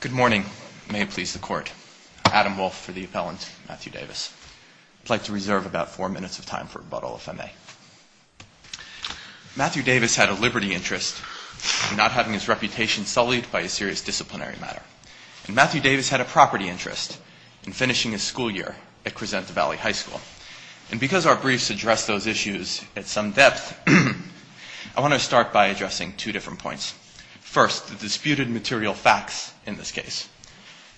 Good morning. May it please the Court. Adam Wolfe for the appellant, Matthew Davis. I'd like to reserve about four minutes of time for rebuttal if I may. Matthew Davis had a liberty interest in not having his reputation sullied by a serious disciplinary matter. And Matthew Davis had a property interest in finishing his school year at Crescent Valley High School. And because our briefs address those issues at some depth, I want to start by addressing two different points. First, the disputed material facts in this case.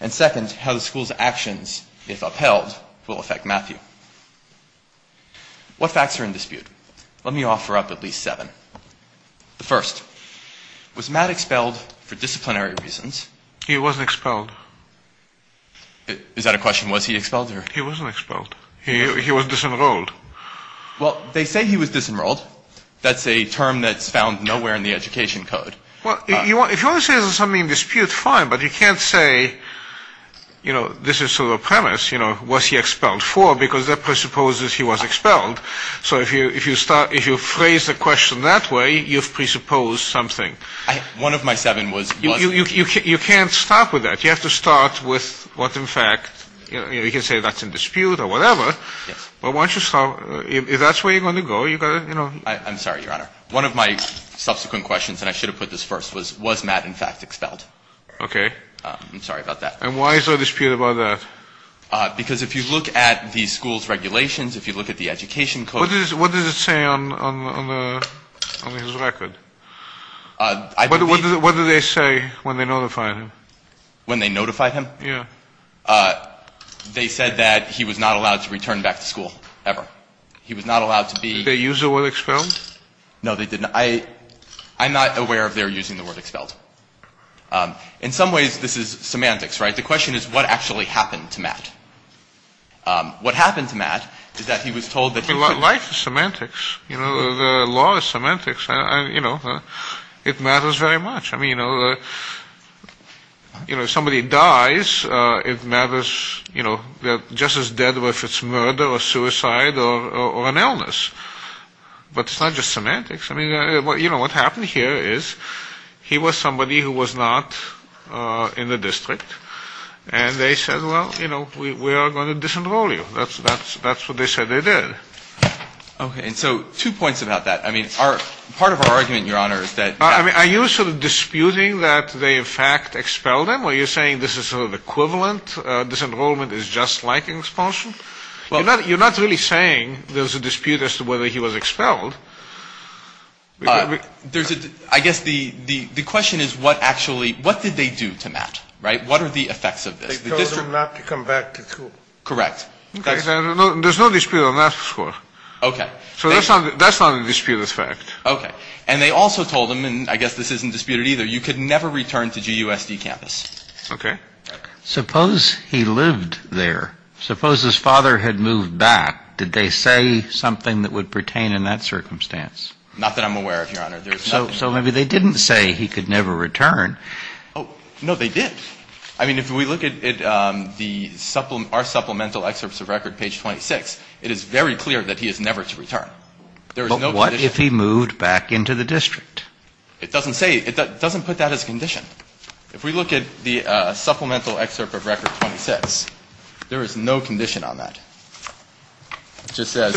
And second, how the school's actions, if upheld, will affect Matthew. What facts are in dispute? Let me offer up at least seven. The first, was Matt expelled for disciplinary reasons? He wasn't expelled. Is that a question, was he expelled? He wasn't expelled. He was disenrolled. Well, they say he was disenrolled. That's a term that's found nowhere in the education code. Well, if you want to say there's something in dispute, fine. But you can't say, you know, this is sort of a premise, you know, was he expelled for, because that presupposes he was expelled. So if you start, if you phrase the question that way, you've presupposed something. One of my seven was, wasn't. You can't stop with that. You have to start with what in fact, you know, you can say that's in dispute or whatever. But once you start, if that's where you're going to go, you've got to, you know. I'm sorry, Your Honor. One of my subsequent questions, and I should have put this first, was, was Matt in fact expelled? Okay. I'm sorry about that. And why is there a dispute about that? Because if you look at the school's regulations, if you look at the education code. What does it say on the, on his record? What did they say when they notified him? When they notified him? Yeah. When they notified him, they said that he was not allowed to return back to school ever. He was not allowed to be. Did they use the word expelled? No, they didn't. I, I'm not aware if they're using the word expelled. In some ways, this is semantics, right? The question is, what actually happened to Matt? What happened to Matt is that he was told that he could. Life is semantics. You know, the law is semantics, you know. It matters very much. I mean, you know, you know, if somebody dies, it matters, you know, they're just as dead if it's murder or suicide or, or an illness. But it's not just semantics. I mean, you know, what happened here is he was somebody who was not in the district. And they said, well, you know, we, we are going to disenroll you. That's, that's, that's what they said they did. Okay. And so two points about that. I mean, our, part of our argument, Your Honor, is that. I mean, are you sort of disputing that they, in fact, expelled him? Are you saying this is sort of equivalent, disenrollment is just like expulsion? Well. You're not, you're not really saying there's a dispute as to whether he was expelled. There's a, I guess the, the, the question is what actually, what did they do to Matt, right? What are the effects of this? They told him not to come back to school. Correct. Okay. There's no dispute on that score. Okay. So that's not, that's not a disputed fact. Okay. And they also told him, and I guess this isn't disputed either, you could never return to GUSD campus. Okay. Suppose he lived there. Suppose his father had moved back. Did they say something that would pertain in that circumstance? Not that I'm aware of, Your Honor. There's nothing. So, so maybe they didn't say he could never return. Oh. No, they did. I mean, if we look at the supplement, our supplemental excerpts of record, page 26, it is very clear that he is never to return. There is no condition. What if he moved back into the district? It doesn't say, it doesn't put that as a condition. If we look at the supplemental excerpt of record 26, there is no condition on that. It just says,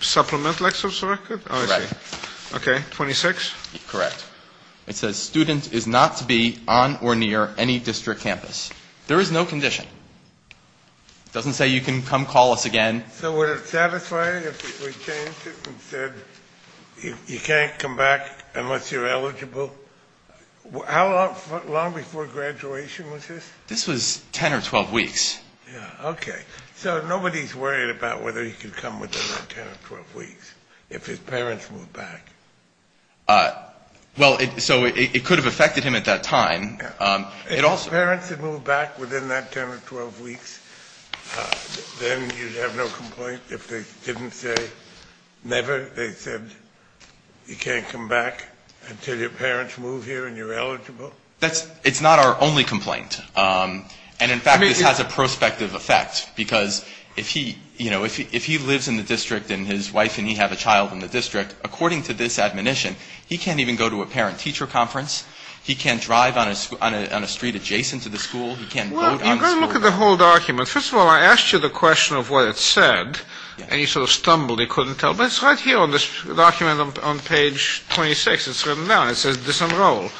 Supplemental excerpts of record? Correct. Okay. 26? Correct. It says student is not to be on or near any district campus. There is no condition. It doesn't say you can come call us again. So would it satisfy if we changed it and said you can't come back unless you're eligible? How long before graduation was this? This was 10 or 12 weeks. Yeah. Okay. So nobody's worried about whether he could come within that 10 or 12 weeks if his parents moved back. Well it, so it could have affected him at that time. If his parents had moved back within that 10 or 12 weeks, then you'd have no complaint if they didn't say, never, they said you can't come back until your parents move here and you're eligible? That's, it's not our only complaint. And in fact, this has a prospective effect because if he, you know, if he lives in the district and his wife and he have a child in the district, according to this admonition, he can't even go to a parent teacher conference. He can't drive on a street adjacent to the school. He can't vote on the school board. Well, I'm going to look at the whole document. First of all, I asked you the question of what it said and you sort of stumbled. You couldn't tell. But it's right here on this document on page 26. It's written down. It says disenroll.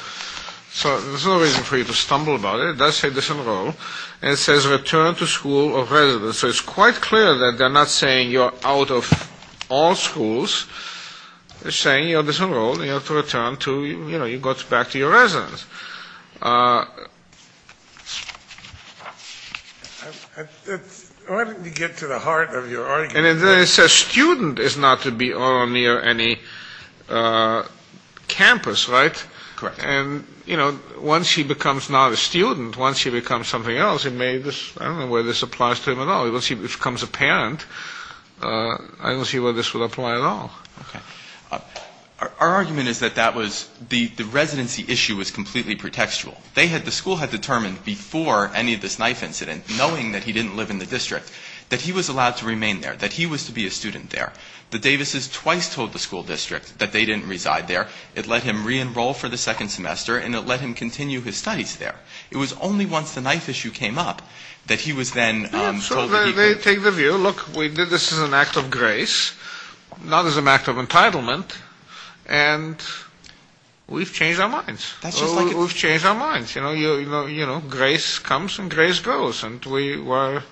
So there's no reason for you to stumble about it. It does say disenroll. And it says return to school or residence. So it's quite clear that they're not saying you're out of all schools. They're saying you're disenrolled and you have to return to, you know, you go back to your residence. Why don't you get to the heart of your argument? And then it says student is not to be on or near any campus, right? Correct. And, you know, once he becomes not a student, once he becomes something else, it may, I don't know where this applies to him at all. Once he becomes a parent, I don't see where this would apply at all. Our argument is that that was the residency issue was completely pretextual. They had, the school had determined before any of this knife incident, knowing that he didn't live in the district, that he was allowed to remain there, that he was to be a student there. The Davises twice told the school district that they didn't reside there. It let him re-enroll for the second semester and it let him continue his studies there. It was only once the knife issue came up that he was then told that he could. Yeah, so they take the view, look, we did this as an act of grace, not as an act of entitlement and we've changed our minds. That's just like it was. We've changed our minds. You know, grace comes and grace goes and we were,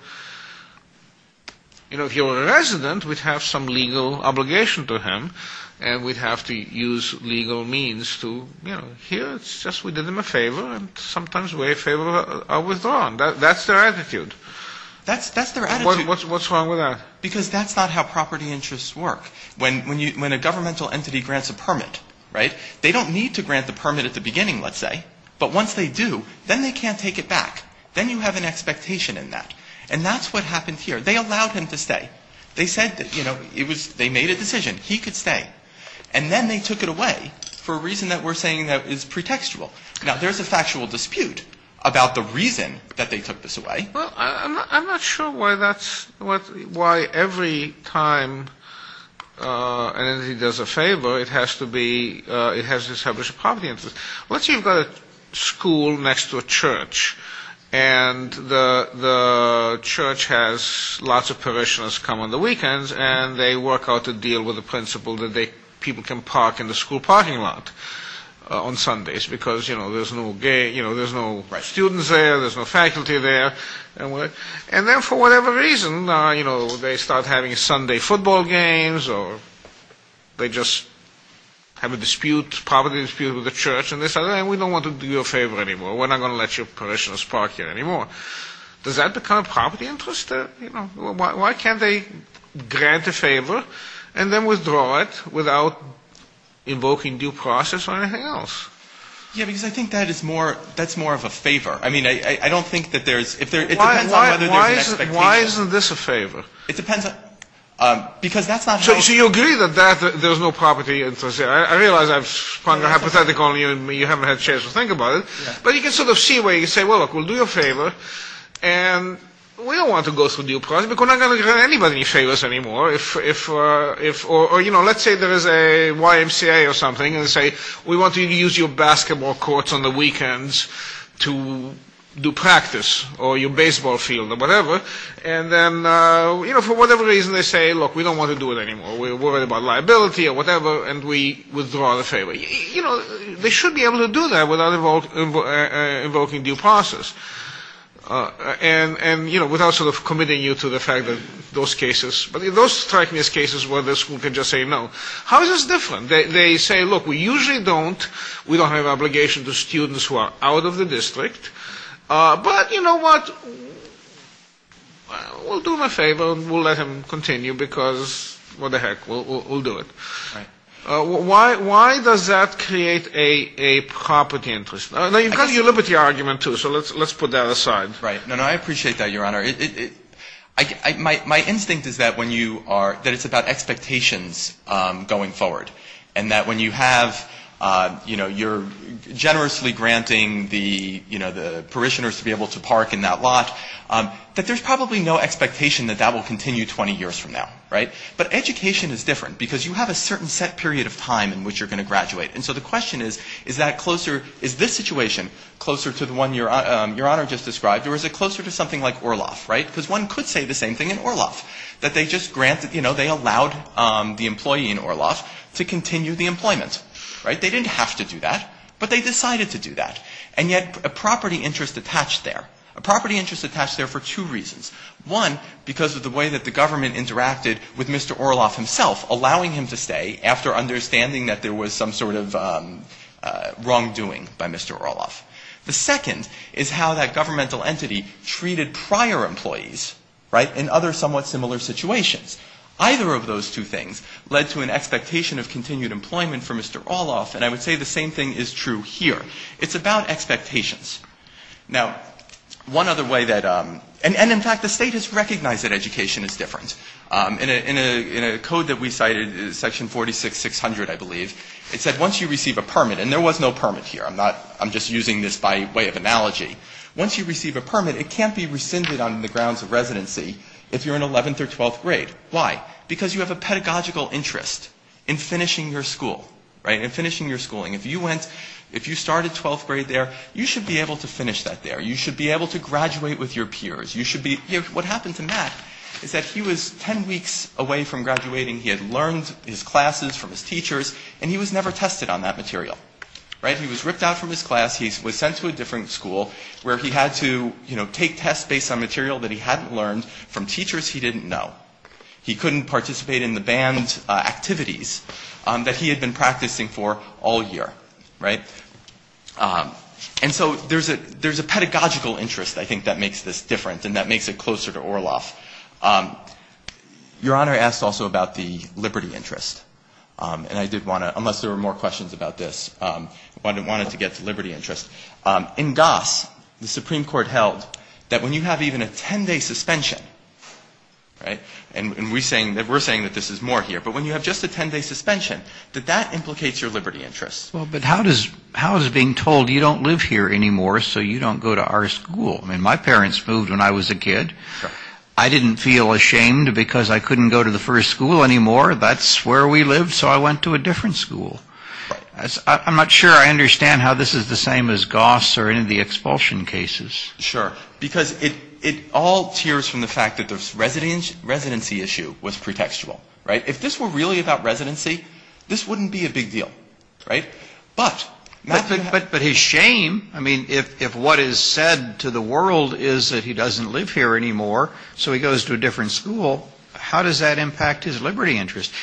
you know, if he were a resident, we'd have some legal obligation to him and we'd have to use legal means to, you know, here it's just we did them a favor and sometimes we're a favor of a withdrawn. That's their attitude. That's their attitude. What's wrong with that? Because that's not how property interests work. When a governmental entity grants a permit, right, they don't need to grant the permit at the beginning, let's say, but once they do, then they can't take it back. Then you have an expectation in that. And that's what happened here. They allowed him to stay. They said that, you know, they made a decision. He could stay. And then they took it away for a reason that we're saying that is pretextual. Now, there's a factual dispute about the reason that they took this away. Well, I'm not sure why that's why every time an entity does a favor, it has to be, it has to establish a property interest. Let's say you've got a school next to a church and the church has lots of parishioners come on the weekends and they work out a deal with the principal that people can park in the school parking lot on Sundays because, you know, there's no students there, there's no faculty there, and then for whatever reason, you know, they start having Sunday football games or they just have a dispute, property dispute with the church and they say, we don't want to do you a favor anymore, we're not going to let your parishioners park here anymore. Does that become a property interest? Why can't they grant a favor and then withdraw it without invoking due process or anything else? Yeah, because I think that is more, that's more of a favor. I mean, I don't think that there's, if there, it depends on whether there's an expectation. Why isn't this a favor? It depends on, because that's not. So you agree that that there's no property interest there. I realize I've spun a hypothetical and you haven't had a chance to think about it. But you can sort of see where you say, well, look, we'll do you a favor and we don't want to go through due process because we're not going to grant anybody any favors anymore. If, or, you know, let's say there is a YMCA or something and say, we want you to use your basketball courts on the weekends to do practice or your baseball field or whatever. And then, you know, for whatever reason, they say, look, we don't want to do it anymore. We're worried about liability or whatever, and we withdraw the favor. You know, they should be able to do that without invoking due process and, you know, without sort of committing you to the fact that those cases, but those strike me as cases where the school can just say no. How is this different? They say, look, we usually don't, we don't have an obligation to students who are out of the district, but you know what, we'll do him a favor and we'll let him continue because what the heck, we'll do it. Why does that create a property interest? Now, you've got your liberty argument, too, so let's put that aside. Right. No, no, I appreciate that, Your Honor. My instinct is that when you are, that it's about expectations going forward and that when you have, you know, you're generously granting the, you know, the parishioners to be able to park in that lot, that there's probably no expectation that that will continue 20 years from now, right? But education is different because you have a certain set period of time in which you're going to graduate. And so the question is, is that closer, is this situation closer to the one Your Honor just described? Or is it closer to something like Orloff, right? Because one could say the same thing in Orloff, that they just granted, you know, they allowed the employee in Orloff to continue the employment, right? They didn't have to do that, but they decided to do that. And yet, a property interest attached there, a property interest attached there for two reasons. One, because of the way that the government interacted with Mr. Orloff himself, allowing him to stay after understanding that there was some sort of wrongdoing by Mr. Orloff. The second is how that governmental entity treated prior employees, right, in other somewhat similar situations. Either of those two things led to an expectation of continued employment for Mr. Orloff, and I would say the same thing is true here. It's about expectations. Now, one other way that, and in fact the state has recognized that education is different. In a code that we cited, section 46600 I believe, it said once you receive a permit, and there was no permit here. I'm not, I'm just using this by way of analogy. Once you receive a permit, it can't be rescinded on the grounds of residency if you're in 11th or 12th grade. Why? Because you have a pedagogical interest in finishing your school, right, in finishing your schooling. If you went, if you started 12th grade there, you should be able to finish that there. You should be able to graduate with your peers. You should be, here, what happened to Matt is that he was 10 weeks away from graduating. He had learned his classes from his teachers, and he was never tested on that material, right? He was ripped out from his class. He was sent to a different school where he had to, you know, take tests based on material that he hadn't learned from teachers he didn't know. He couldn't participate in the band activities that he had been practicing for all year, right? And so there's a pedagogical interest, I think, that makes this different, and that makes it closer to Orloff. Your Honor asked also about the liberty interest, and I did want to, unless there were more questions about this, I wanted to get to liberty interest. In Goss, the Supreme Court held that when you have even a 10-day suspension, right, and we're saying that this is more here, but when you have just a 10-day suspension, that that implicates your liberty interest. Well, but how does being told you don't live here anymore, so you don't go to our school? I mean, my parents moved when I was a kid. I didn't feel ashamed because I couldn't go to the first school anymore. That's where we lived, so I went to a different school. I'm not sure I understand how this is the same as Goss or any of the expulsion cases. Sure. Because it all tears from the fact that the residency issue was pretextual, right? If this were really about residency, this wouldn't be a big deal, right? But not to have But his shame, I mean, if what is said to the world is that he doesn't live here anymore, so he goes to a different school, how does that impact his liberty interest?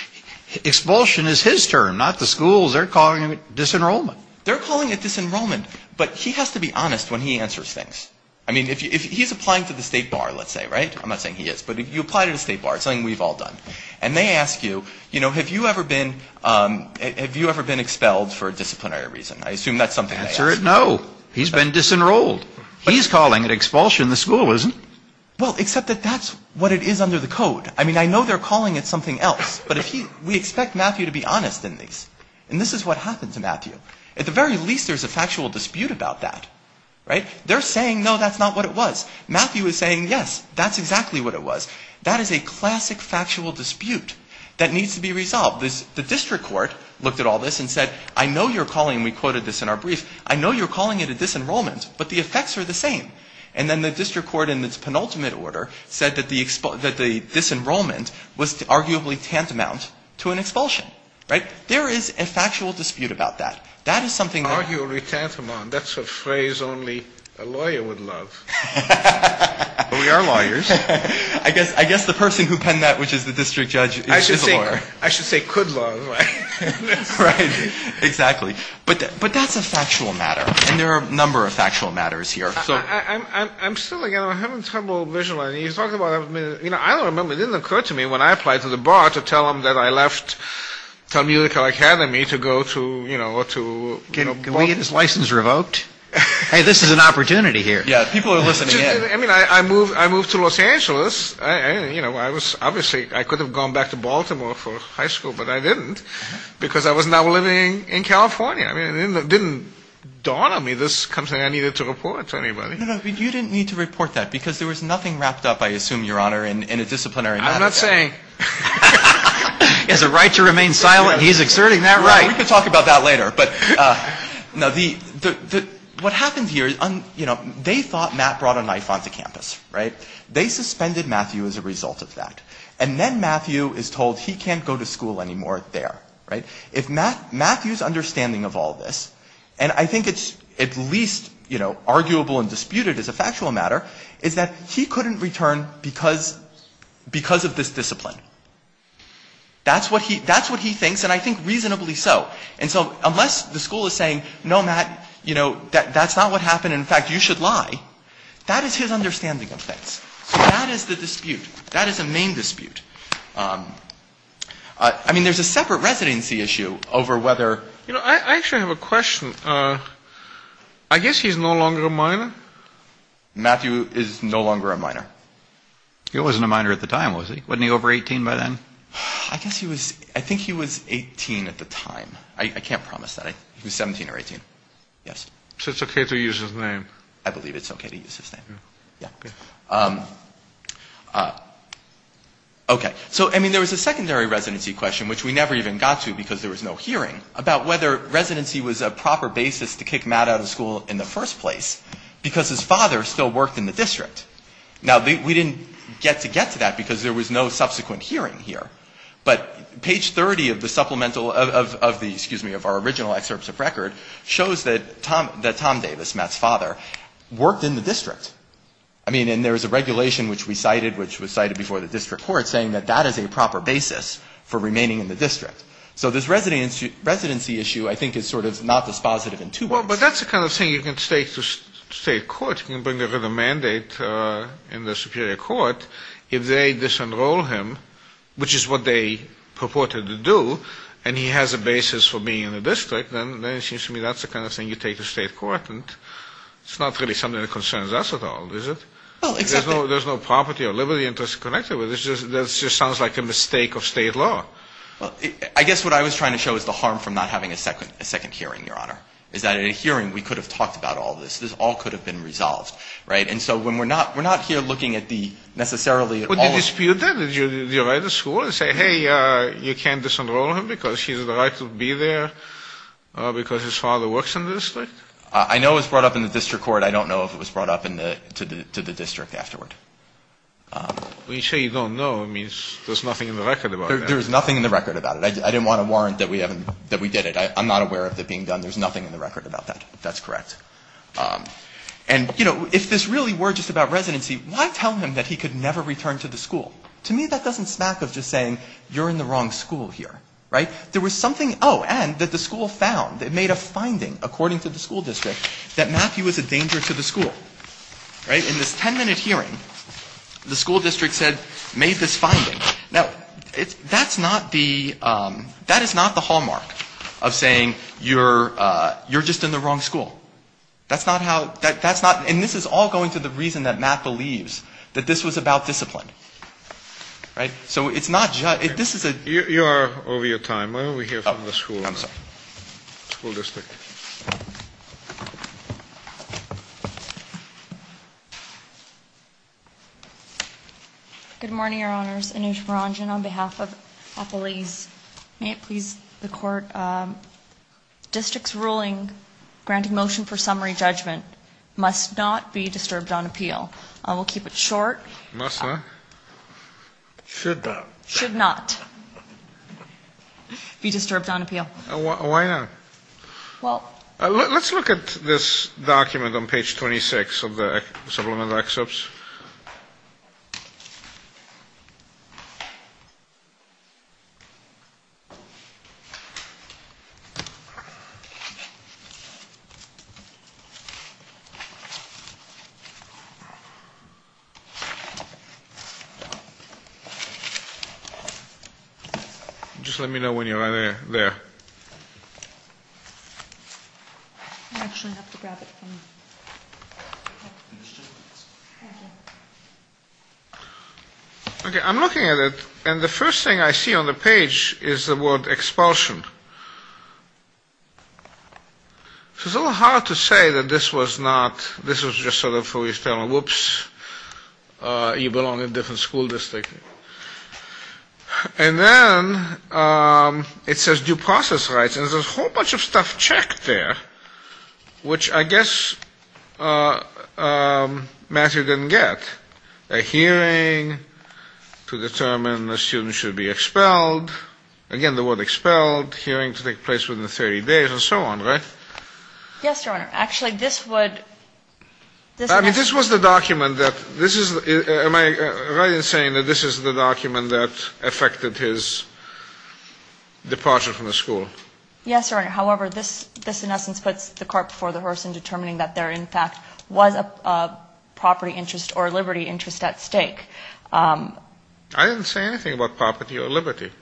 Expulsion is his term, not the school's. They're calling it disenrollment. They're calling it disenrollment, but he has to be honest when he answers things. I mean, if he's applying for the state bar, let's say, right? I'm not saying he is, but if you apply to the state bar, it's something we've all done, and they ask you, you know, have you ever been expelled for a disciplinary reason? I assume that's something they ask. Answer it, no. He's been disenrolled. He's calling it expulsion. The school isn't. Well, except that that's what it is under the code. I mean, I know they're calling it something else, but we expect Matthew to be honest in these, and this is what happened to Matthew. At the very least, there's a factual dispute about that, right? They're saying, no, that's not what it was. Matthew is saying, yes, that's exactly what it was. That is a classic factual dispute that needs to be resolved. The district court looked at all this and said, I know you're calling, we quoted this in our brief, I know you're calling it a disenrollment, but the effects are the same. And then the district court, in its penultimate order, said that the disenrollment was arguably tantamount to an expulsion, right? There is a factual dispute about that. That is something that. Arguably tantamount. That's a phrase only a lawyer would love. We are lawyers. I guess the person who penned that, which is the district judge, is a lawyer. I should say could love. Right. Exactly. But that's a factual matter, and there are a number of factual matters here. I'm still, again, I'm having trouble visualizing, you talked about, I don't remember, it didn't occur to me when I applied to the bar to tell them that I left Telmeutical Academy to go to, you know, to. Can we get his license revoked? Hey, this is an opportunity here. Yeah, people are listening in. I mean, I moved to Los Angeles, you know, I was obviously, I could have gone back to Baltimore for high school, but I didn't because I was now living in California. I mean, it didn't dawn on me. This is something I needed to report to anybody. No, no, you didn't need to report that because there was nothing wrapped up, I assume, Your Honor, in a disciplinary matter. I'm not saying. He has a right to remain silent. He's exerting that right. We can talk about that later, but no, the, what happened here, you know, they thought Matt brought a knife onto campus, right? They suspended Matthew as a result of that. And then Matthew is told he can't go to school anymore there, right? If Matt, Matthew's understanding of all this, and I think it's at least, you know, arguable and disputed as a factual matter, is that he couldn't return because, because of this discipline. That's what he, that's what he thinks, and I think reasonably so. And so unless the school is saying, no, Matt, you know, that's not what happened, in fact, you should lie. That is his understanding of things. So that is the dispute. That is a main dispute. I mean, there's a separate residency issue over whether, you know, I actually have a question. I guess he's no longer a minor? Matthew is no longer a minor. He wasn't a minor at the time, was he? Wasn't he over 18 by then? I guess he was, I think he was 18 at the time. I can't promise that. He was 17 or 18. Yes. So it's okay to use his name? I believe it's okay to use his name. Yeah. Okay. So, I mean, there was a secondary residency question, which we never even got to because there was no hearing, about whether residency was a proper basis to kick Matt out of school in the first place, because his father still worked in the district. Now, we didn't get to get to that because there was no subsequent hearing here. But page 30 of the supplemental, of the, excuse me, of our original excerpts of record, shows that Tom, that Tom Davis, Matt's father, worked in the district. which we cited, which was cited before the district court, saying that that is a proper basis for remaining in the district. So this residency issue, I think, is sort of not dispositive in two ways. Well, but that's the kind of thing you can state to state court. You can bring over the mandate in the superior court. If they disenroll him, which is what they purported to do, and he has a basis for being in the district, then it seems to me that's the kind of thing you take to state court. And it's not really something that concerns us at all, is it? Oh, exactly. There's no property or liberty interest connected with it. It just sounds like a mistake of state law. Well, I guess what I was trying to show is the harm from not having a second hearing, Your Honor, is that in a hearing, we could have talked about all this. This all could have been resolved, right? And so when we're not, we're not here looking at the, necessarily at all. Would you dispute that? Would you write to school and say, hey, you can't disenroll him because he has the right to be there because his father works in the district? I know it was brought up in the district court. But I don't know if it was brought up to the district afterward. When you say you don't know, it means there's nothing in the record about it. There's nothing in the record about it. I didn't want to warrant that we did it. I'm not aware of it being done. There's nothing in the record about that, if that's correct. And, you know, if this really were just about residency, why tell him that he could never return to the school? To me, that doesn't smack of just saying, you're in the wrong school here, right? There was something, oh, and that the school found, it made a finding, according to the school district, that Matthew was a danger to the school, right? In this ten-minute hearing, the school district said, made this finding. Now, that's not the hallmark of saying you're just in the wrong school. That's not how, that's not, and this is all going to the reason that Matt believes, that this was about discipline, right? So it's not just, this is a... You are over your time. Why don't we hear from the school district? Thank you. Good morning, your honors. Anoosh Maranjan on behalf of Appalese. May it please the court, districts ruling, granting motion for summary judgment must not be disturbed on appeal. I will keep it short. Must not? Should not. Should not. Be disturbed on appeal. Why not? Well... Let's look at this document on page 26 of the Supplemental Excerpts. Just let me know when you are there. There. Okay, I'm looking at it, and the first thing I see on the page is the word expulsion. It's a little hard to say that this was not, this was just sort of, whoops, you belong in a different school district. And then, it says due process rights, and there's a whole bunch of stuff checked there, which I guess Matthew didn't get. A hearing to determine a student should be expelled. Again, the word expelled, hearing to take place within 30 days, and so on, right? Yes, your honor. Actually, this would... I mean, this was the document that... Am I right in saying that this is the document that affected his departure from the school? Yes, your honor. However, this in essence puts the cart before the horse in determining that there in fact was a property interest or liberty interest at stake. I didn't say anything about property or liberty.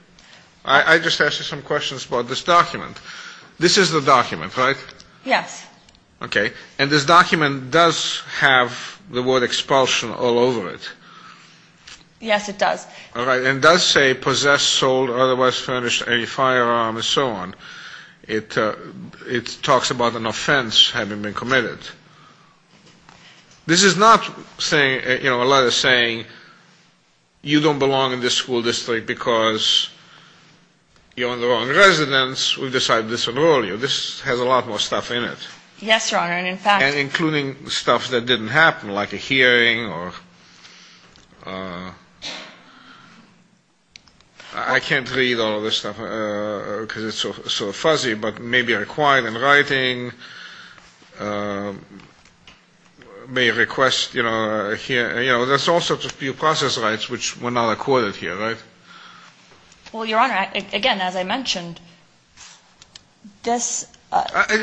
I just asked you some questions about this document. This is the document, right? Yes. Okay. And this document does have the word expulsion all over it. Yes, it does. All right. And it does say possessed, sold, or otherwise furnished any firearm, and so on. It talks about an offense having been committed. This is not saying, you know, a letter saying you don't belong in this school district because you're in the wrong residence. We've decided to disenroll you. This has a lot more stuff in it. Yes, your honor. And in fact... Including stuff that didn't happen, like a hearing or... I can't read all of this stuff because it's so fuzzy, but maybe required in writing, may request, you know, a hearing. There's all sorts of due process rights which were not accorded here, right? Well, your honor, again, as I mentioned, this...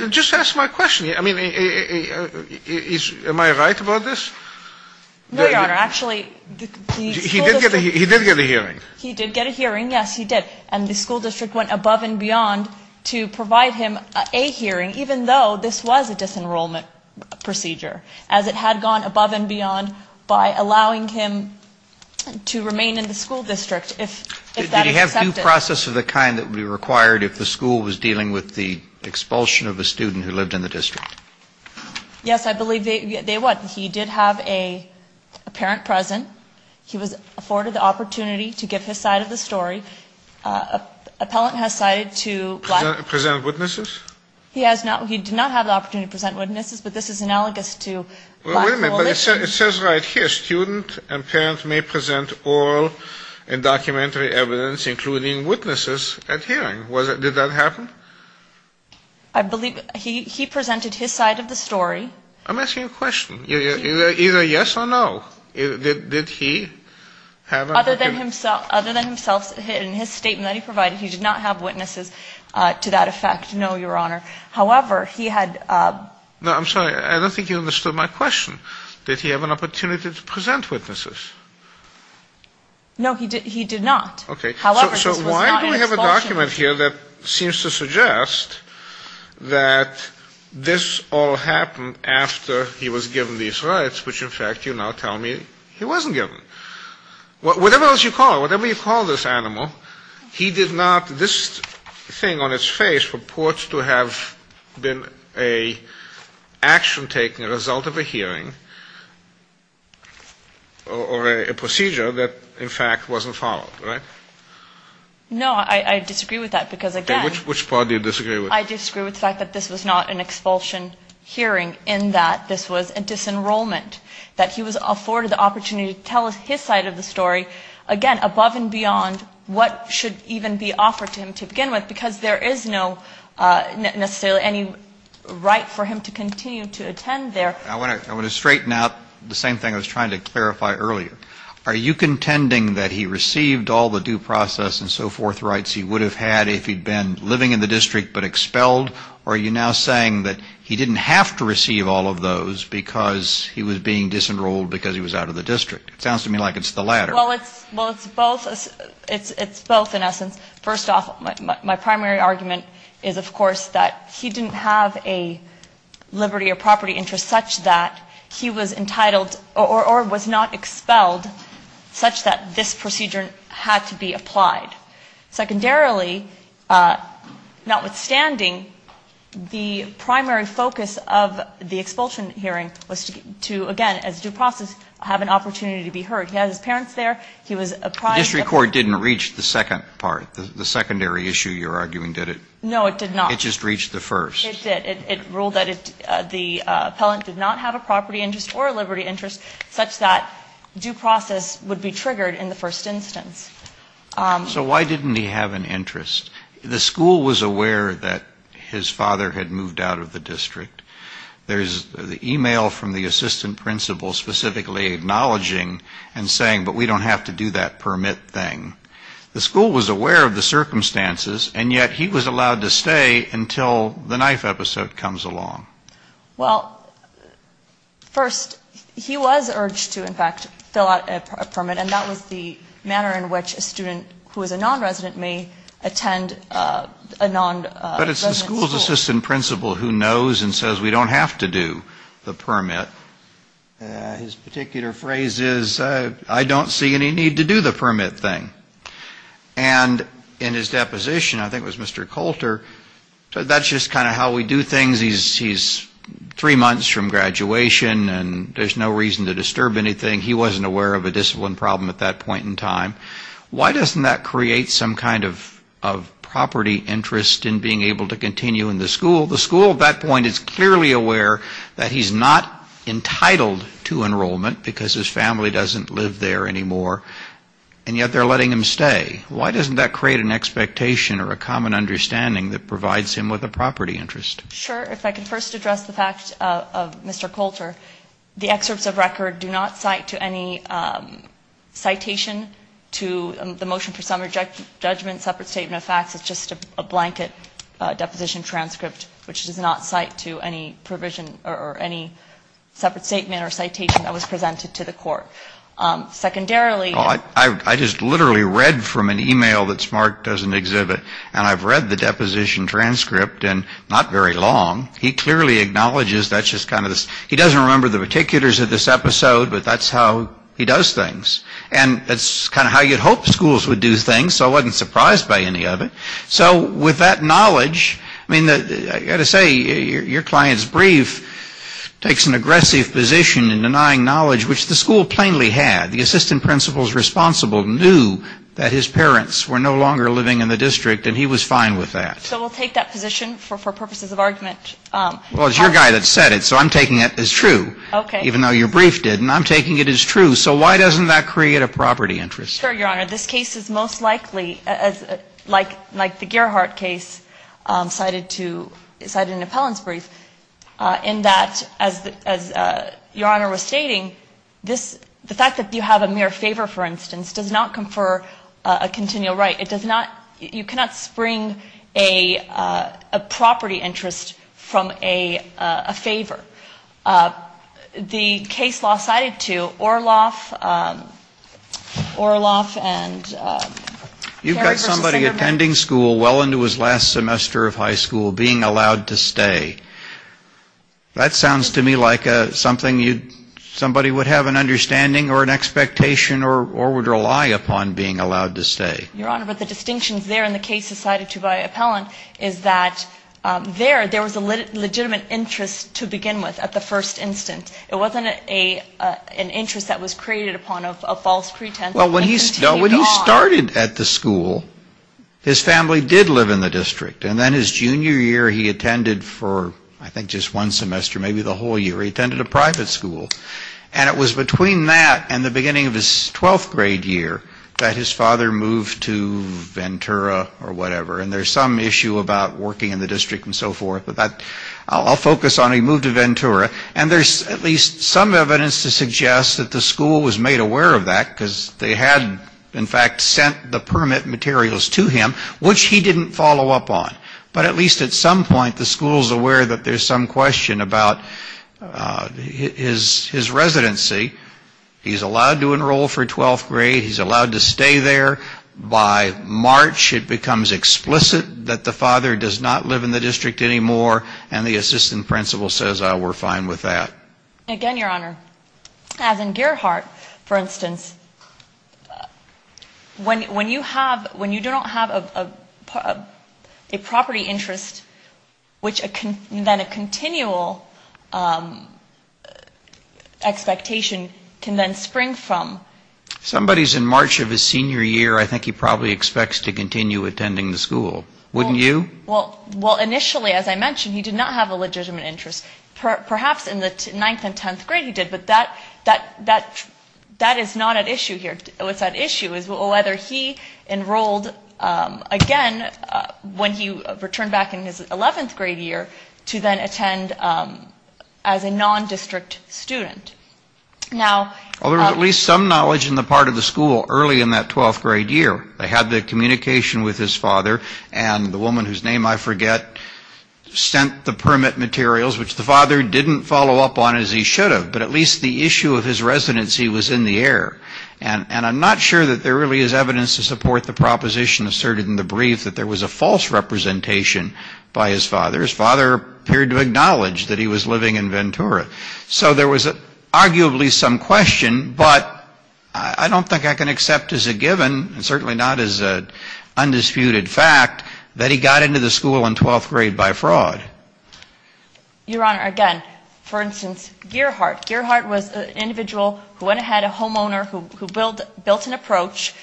Just ask my question. I mean, am I right about this? No, your honor. Actually... He did get a hearing. He did get a hearing, yes, he did. And the school district went above and beyond to provide him a hearing, even though this was a disenrollment procedure, as it had gone above and beyond by allowing him to remain in the school district if that is accepted. Did he have due process of the kind that would be required if the school was dealing with the expulsion of a student who lived in the district? Yes, I believe they would. He did have a parent present. He was afforded the opportunity to give his side of the story. Appellant has cited to... Present witnesses? He has not... He did not have the opportunity to present witnesses, but this is analogous to... Well, wait a minute. But it says right here, student and parent may present oral and documentary evidence, including witnesses at hearing. Did that happen? I believe he presented his side of the story. I'm asking a question. Either yes or no. Did he have... Other than himself, in his statement that he provided, he did not have witnesses to that effect. No, your honor. However, he had... No, I'm sorry. I don't think you understood my question. Did he have an opportunity to present witnesses? No, he did not. Okay. So why do we have a document here that seems to suggest that this all happened after he was given these rights, which, in fact, you now tell me he wasn't given. Whatever else you call it, whatever you call this animal, he did not... This thing on his face purports to have been an action taken as a result of a hearing or a procedure that, in fact, wasn't followed. No, I disagree with that because, again... Which part do you disagree with? I disagree with the fact that this was not an expulsion hearing in that this was a disenrollment, that he was afforded the opportunity to tell his side of the story, again, above and beyond what should even be offered to him to begin with, because there is no, necessarily, any right for him to continue to attend there. I want to straighten out the same thing I was trying to clarify earlier. Are you contending that he received all the due process and so forth rights he would have had if he'd been living in the district but expelled? Or are you now saying that he didn't have to receive all of those because he was being disenrolled because he was out of the district? It sounds to me like it's the latter. Well, it's both, in essence. First off, my primary argument is, of course, that he didn't have a liberty or property interest such that he was entitled or was not expelled such that this procedure had to be applied. Secondarily, notwithstanding, the primary focus of the expulsion hearing was to, again, as due process, have an opportunity to be heard. He had his parents there. The district court didn't reach the second part, the secondary issue you're arguing, did it? No, it did not. It just reached the first. It did. It ruled that the appellant did not have a property interest or a liberty interest such that due process would be triggered in the first instance. So why didn't he have an interest? The school was aware that his father had moved out of the district. There's the email from the assistant principal specifically acknowledging and saying, but we don't have to do that permit thing. The school was aware of the circumstances, and yet he was allowed to stay until the knife episode comes along. Well, first, he was urged to, in fact, fill out a permit, and that was the manner in which a student who is a nonresident may attend a nonresident school. But it's the school's assistant principal who knows and says we don't have to do the permit. His particular phrase is, I don't see any need to do the permit thing. And in his deposition, I think it was Mr. Coulter, that's just kind of how we do things. He's three months from graduation, and there's no reason to disturb anything. He wasn't aware of a discipline problem at that point in time. Why doesn't that create some kind of property interest in being able to continue in the school? The school at that point is clearly aware that he's not entitled to enrollment because his family doesn't live there anymore, and yet they're letting him stay. Why doesn't that create an expectation or a common understanding that provides him with a property interest? Sure. If I can first address the fact of Mr. Coulter, the excerpts of record do not cite to any citation to the motion for summary judgment, separate statement of facts, it's just a blanket deposition transcript, which does not cite to any provision or any separate statement or citation that was presented to the court. Secondarily... I just literally read from an email that Smart doesn't exhibit, and I've read the deposition transcript in not very long. He clearly acknowledges that's just kind of this... He doesn't remember the particulars of this episode, but that's how he does things. And that's kind of how you'd hope schools would do things, so I wasn't surprised by any of it. So with that knowledge... I mean, I've got to say, your client's brief takes an aggressive position in denying knowledge, which the school plainly had. The assistant principals responsible knew that his parents were no longer living in the district, and he was fine with that. So we'll take that position for purposes of argument. Well, it's your guy that said it, so I'm taking it as true. Even though your brief didn't, I'm taking it as true. So why doesn't that create a property interest? Sure, Your Honor. This case is most likely, like the Gerhardt case cited in Appellant's brief, in that, as Your Honor was stating, the fact that you have a mere favor, for instance, does not confer a continual right. It does not... You cannot spring a property interest from a favor. The case law cited to Orloff and... You've got somebody attending school well into his last semester of high school being allowed to stay. That sounds to me like something somebody would have an understanding or an expectation or would rely upon being allowed to stay. Your Honor, but the distinctions there in the case cited to by Appellant is that there was a legitimate interest to begin with at the first instance. It wasn't an interest that was created upon of false pretense. Well, when he started at the school, his family did live in the district. And then his junior year, he attended for, I think, just one semester, maybe the whole year, he attended a private school. And it was between that and the beginning of his twelfth grade year that his father moved to Ventura or whatever. And there's some issue about working in the district and so forth. I'll focus on he moved to Ventura. And there's at least some evidence to suggest that the school was made aware of that because they had, in fact, sent the permit materials to him, which he didn't follow up on. But at least at some point, the school's aware that there's some question about his residency. He's allowed to enroll for twelfth grade. He's allowed to stay there. By March, it becomes explicit that the father does not live in the district anymore and the assistant principal says, oh, we're fine with that. Again, Your Honor, as in Gerhardt, for instance, when you don't have a property interest, which then a continual expectation can then spring from. If somebody's in March of his senior year, I think he probably expects to continue attending the school. Wouldn't you? Well, initially, as I mentioned, he did not have a legitimate interest. Perhaps in the ninth and tenth grade, he did. But that is not at issue here. What's at issue is whether he enrolled again when he returned back in his eleventh grade year to then attend as a non-district student. Now... Well, there was at least some knowledge in the part of the school early in that twelfth grade year. They had the communication with his father and the woman whose name I forget sent the permit materials, which the father didn't follow up on as he should have. But at least the issue of his residency was in the air. And I'm not sure that there really is evidence to support the proposition asserted in the brief that there was a false representation by his father. His father appeared to acknowledge that he was living in Ventura. So there was arguably some question, but I don't think I can accept as a given, and certainly not as an undisputed fact, that he got into the school in twelfth grade by fraud. Your Honor, again, for instance, Gearheart. Gearheart was an individual who went ahead, a homeowner, who built an approach.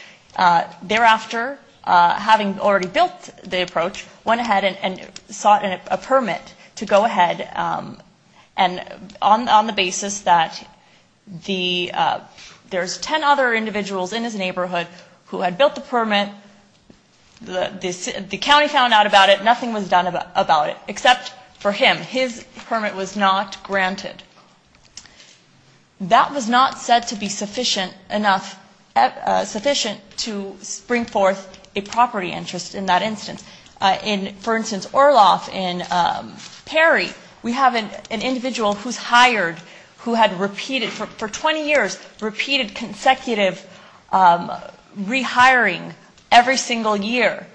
Thereafter, having already built the approach, went ahead and sought a permit to go ahead on the basis that there's ten other individuals in his neighborhood who had built the permit, the county found out about it, nothing was done about it, except for him. His permit was not granted. That was not said to be sufficient to bring forth a property interest in that instance. For instance, Orloff in Perry, we have an individual who's hired, who had repeated, for twenty years, repeated consecutive rehiring every single year.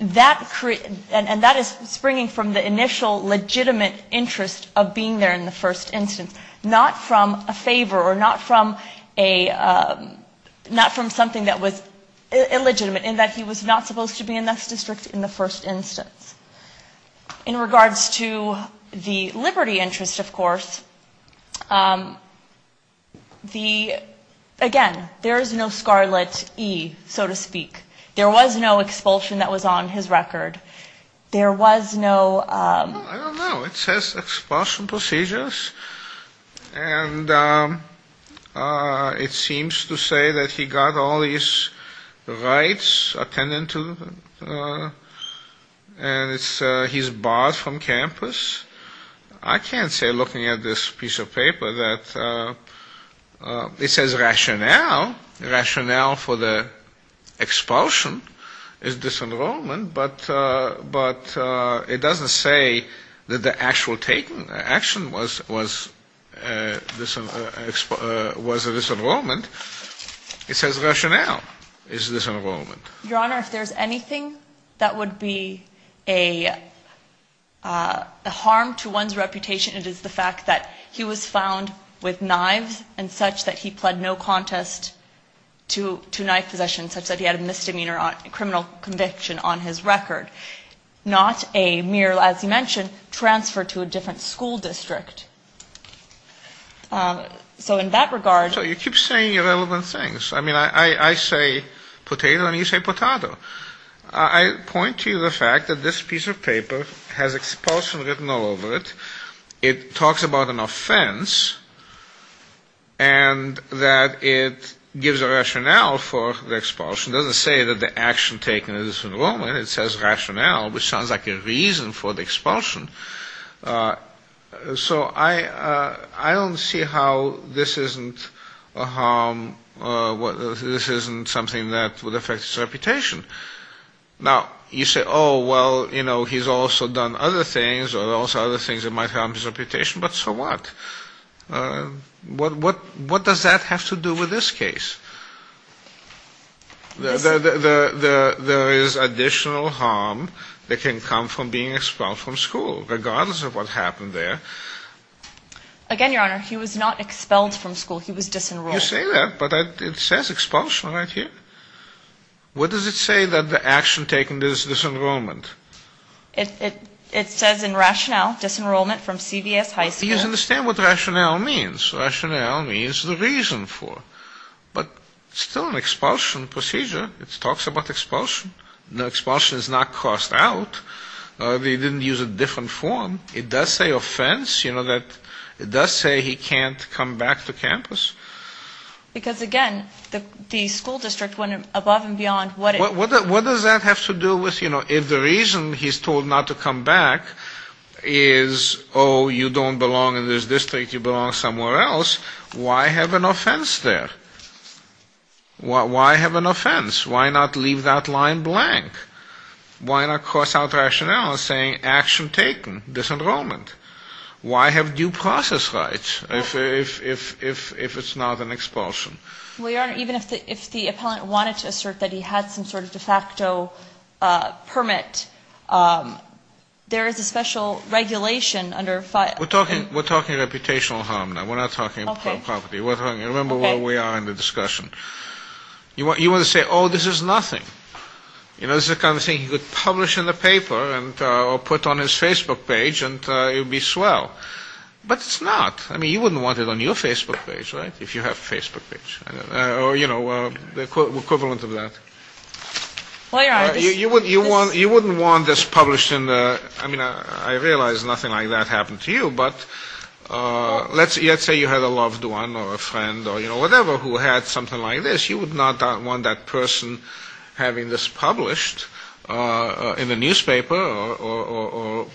And that is springing from the initial legitimate interest of being there in the first instance, not from a favor or not from something that was illegitimate, in that he was not supposed to be in this district in the first instance. In regards to the liberty interest, of course, the, again, there is no scarlet E, so to speak. There was no expulsion that was on his record. There was no... I don't know, it says expulsion procedures, and it seems to say that he got all these rights attended to, and he's barred from campus. I can't say, looking at this piece of paper, that it says rationale, rationale for the expulsion is disenrollment, but it doesn't say that the actual action was a disenrollment. It says rationale is disenrollment. Your Honor, if there's anything that would be a harm to one's reputation, it is the fact that he was found with knives, and such that he pled no contest to knife possession, such that he had a misdemeanor criminal conviction on his record, not a mere, as you mentioned, transfer to a different school district. So in that regard... So you keep saying irrelevant things. I mean, I say potato, and you say potatoe. I point to the fact that this piece of paper has expulsion written all over it. It talks about an offense, and that it gives a rationale for the expulsion. It doesn't say that the action taken is disenrollment. It says rationale, which sounds like a reason for the expulsion. So I don't see how this isn't a harm, this isn't something that would affect his reputation. Now, you say, oh, well, you know, he's also done other things, or also other things that might harm his reputation, but so what? What does that have to do with this case? There is additional harm that can come from being expelled from school, regardless of what happened there. Again, Your Honor, he was not expelled from school, he was disenrolled. You say that, but it says expulsion right here. What does it say that the action taken is disenrollment? It says in rationale, disenrollment from CVS High School. He doesn't understand what rationale means. Rationale means the reason for it. But it's still an expulsion procedure. It talks about expulsion. Expulsion is not crossed out. He didn't use a different form. It does say offense. It does say he can't come back to campus. Because, again, the school district went above and beyond. What does that have to do with, you know, if the reason he's told not to come back is, oh, you don't belong in this district, you belong somewhere else, why have an offense there? Why have an offense? Why not leave that line blank? Why not cross out rationale saying action taken, disenrollment? Why have due process rights if it's not an expulsion? Well, Your Honor, even if the appellant wanted to assert that he had some sort of de facto permit, there is a special regulation under... We're talking reputational harm now. We're not talking property. Remember where we are in the discussion. You want to say, oh, this is nothing. You know, this is the kind of thing he could publish in the paper or put on his Facebook page and it would be swell. But it's not. I mean, you wouldn't want it on your Facebook page, right? If you have a Facebook page. Or, you know, the equivalent of that. You wouldn't want this published in the... I mean, I realize nothing like that happened to you, but let's say you had a loved one or a friend or, you know, whatever who had something like this. You would not want that person having this published in the newspaper or,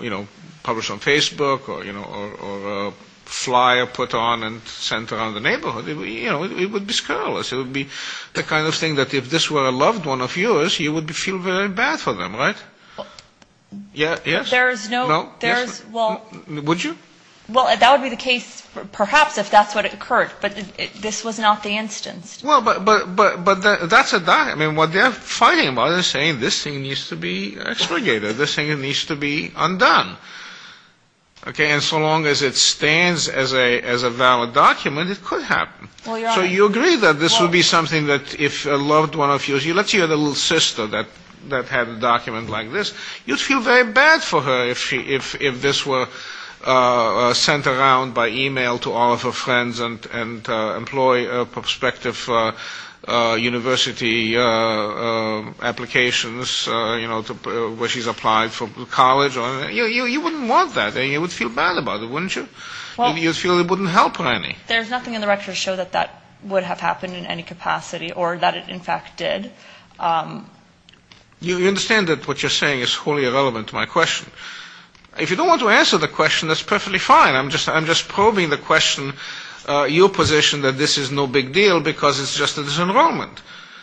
you know, published on Facebook or, you know, or a flyer put on and sent around the neighborhood. You know, it would be scurrilous. It would be the kind of thing that if this were a loved one of yours, you would feel very bad for them, right? There is no... Would you? Well, that would be the case perhaps if that's what occurred, but this was not the instance. Well, but that's a... I mean, what they're fighting about is saying this thing needs to be expurgated. This thing needs to be undone. Okay? And so long as it stands as a valid document, it could happen. So you agree that this would be something that if a loved one of yours... Let's say you had a little sister that had a document like this. You'd feel very bad for her if this were sent around by email to all of her friends and employee prospective university applications, you know, where she's applied for college. You wouldn't want that. You would feel bad about it, wouldn't you? You'd feel it wouldn't help her any. There's nothing in the record to show that that would have happened in any capacity or that it, in fact, did. You understand that what you're saying is wholly irrelevant to my question. If you don't want to answer the question, that's perfectly fine. I'm just probing the question, your position, that this is no big deal because it's just a disenrollment.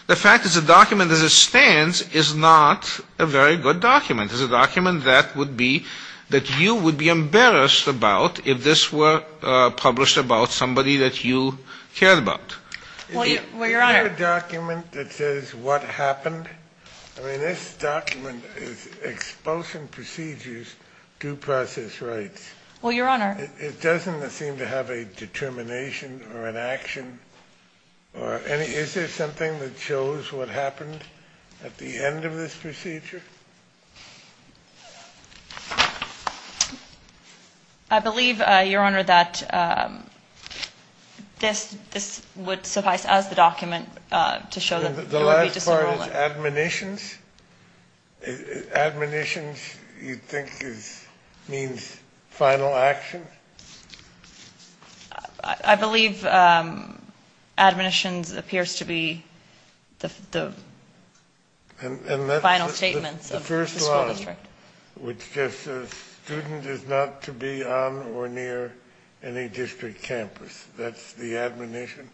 The fact that it's a document as it stands is not a very good document. It's a document that would be... that you would be embarrassed about if this were published about somebody that you cared about. Well, Your Honor... Isn't there a document that says what happened? I mean, this document is Expulsion Procedures, Due Process Rights. Well, Your Honor... It doesn't seem to have a determination or an action. Is there something that shows what happened at the end of this procedure? I believe, Your Honor, that this would suffice as the document to show that you would be disenrolling. And the last part is admonitions? Admonitions, you think, means final action? I believe admonitions appears to be the final statements of the school district. The first line, which just says, student is not to be on or near any district campus. That's the admonition?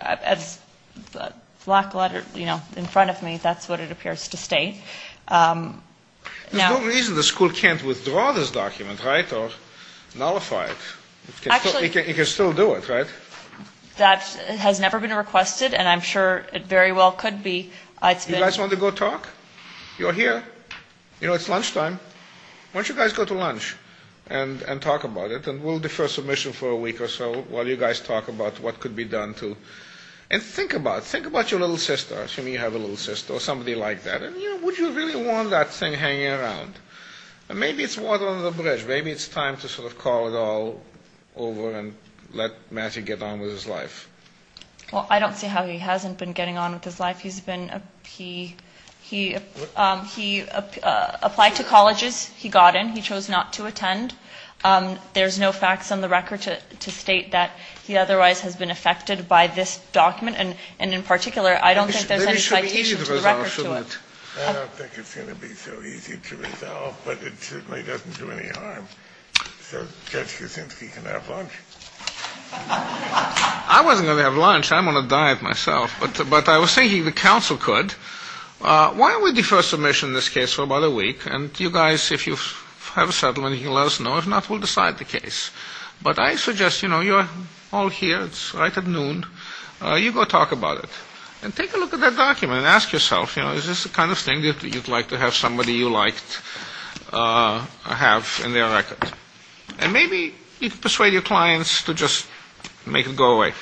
As the black letter in front of me, that's what it appears to state. There's no reason the school can't withdraw this document, right? Or nullify it. It can still do it, right? That has never been requested, and I'm sure it very well could be. You guys want to go talk? You're here. You know, it's lunchtime. Why don't you guys go to lunch and talk about it? And we'll defer submission for a week or so while you guys talk about what could be done. And think about your little sister. Would you really want that thing hanging around? Maybe it's water under the bridge. Maybe it's time to call it all over and let Matthew get on with his life. I don't see how he hasn't been getting on with his life. He applied to colleges. He got in. He chose not to attend. There's no facts on the record to state that he otherwise has been affected by this document. And in particular, I don't think there's any citation to the record to it. It should be easy to resolve, shouldn't it? I don't think it's going to be so easy to resolve, but it certainly doesn't do any harm. So Judge Kuczynski can have lunch. I wasn't going to have lunch. I'm on a diet myself. But I was thinking the counsel could. Why don't we defer submission in this case for about a week and you guys, if you have a settlement, you can let us know. If not, we'll decide the case. But I suggest, you know, you're all here. It's right at noon. You go talk about it. And take a look at that document and ask yourself, is this the kind of thing that you'd like to have somebody you liked have in their record? And maybe you can persuade your clients to just make it go away.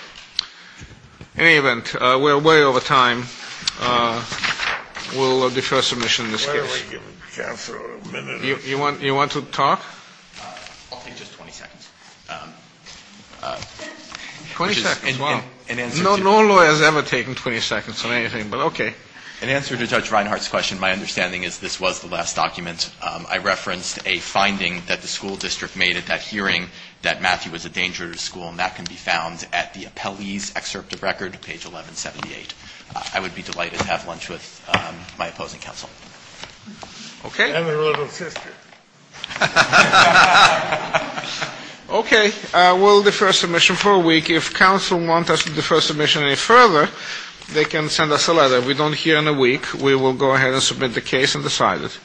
In any event, we're way over time. We'll defer submission in this case. You want to talk? I'll take just 20 seconds. 20 seconds, wow. No lawyer has ever taken 20 seconds on anything, but okay. In answer to Judge Reinhardt's question, my understanding is this was the last document. I referenced a finding that the school district made at that hearing that Matthew was a danger to the school and that can be found at the appellee's excerpt of record, page 1178. I would be delighted to have lunch with my opposing counsel. I have a little sister. Okay. We'll defer submission for a week. If counsel wants us to defer submission any further, they can send us a letter. We don't hear in a week. We will go ahead and submit the case and decide it.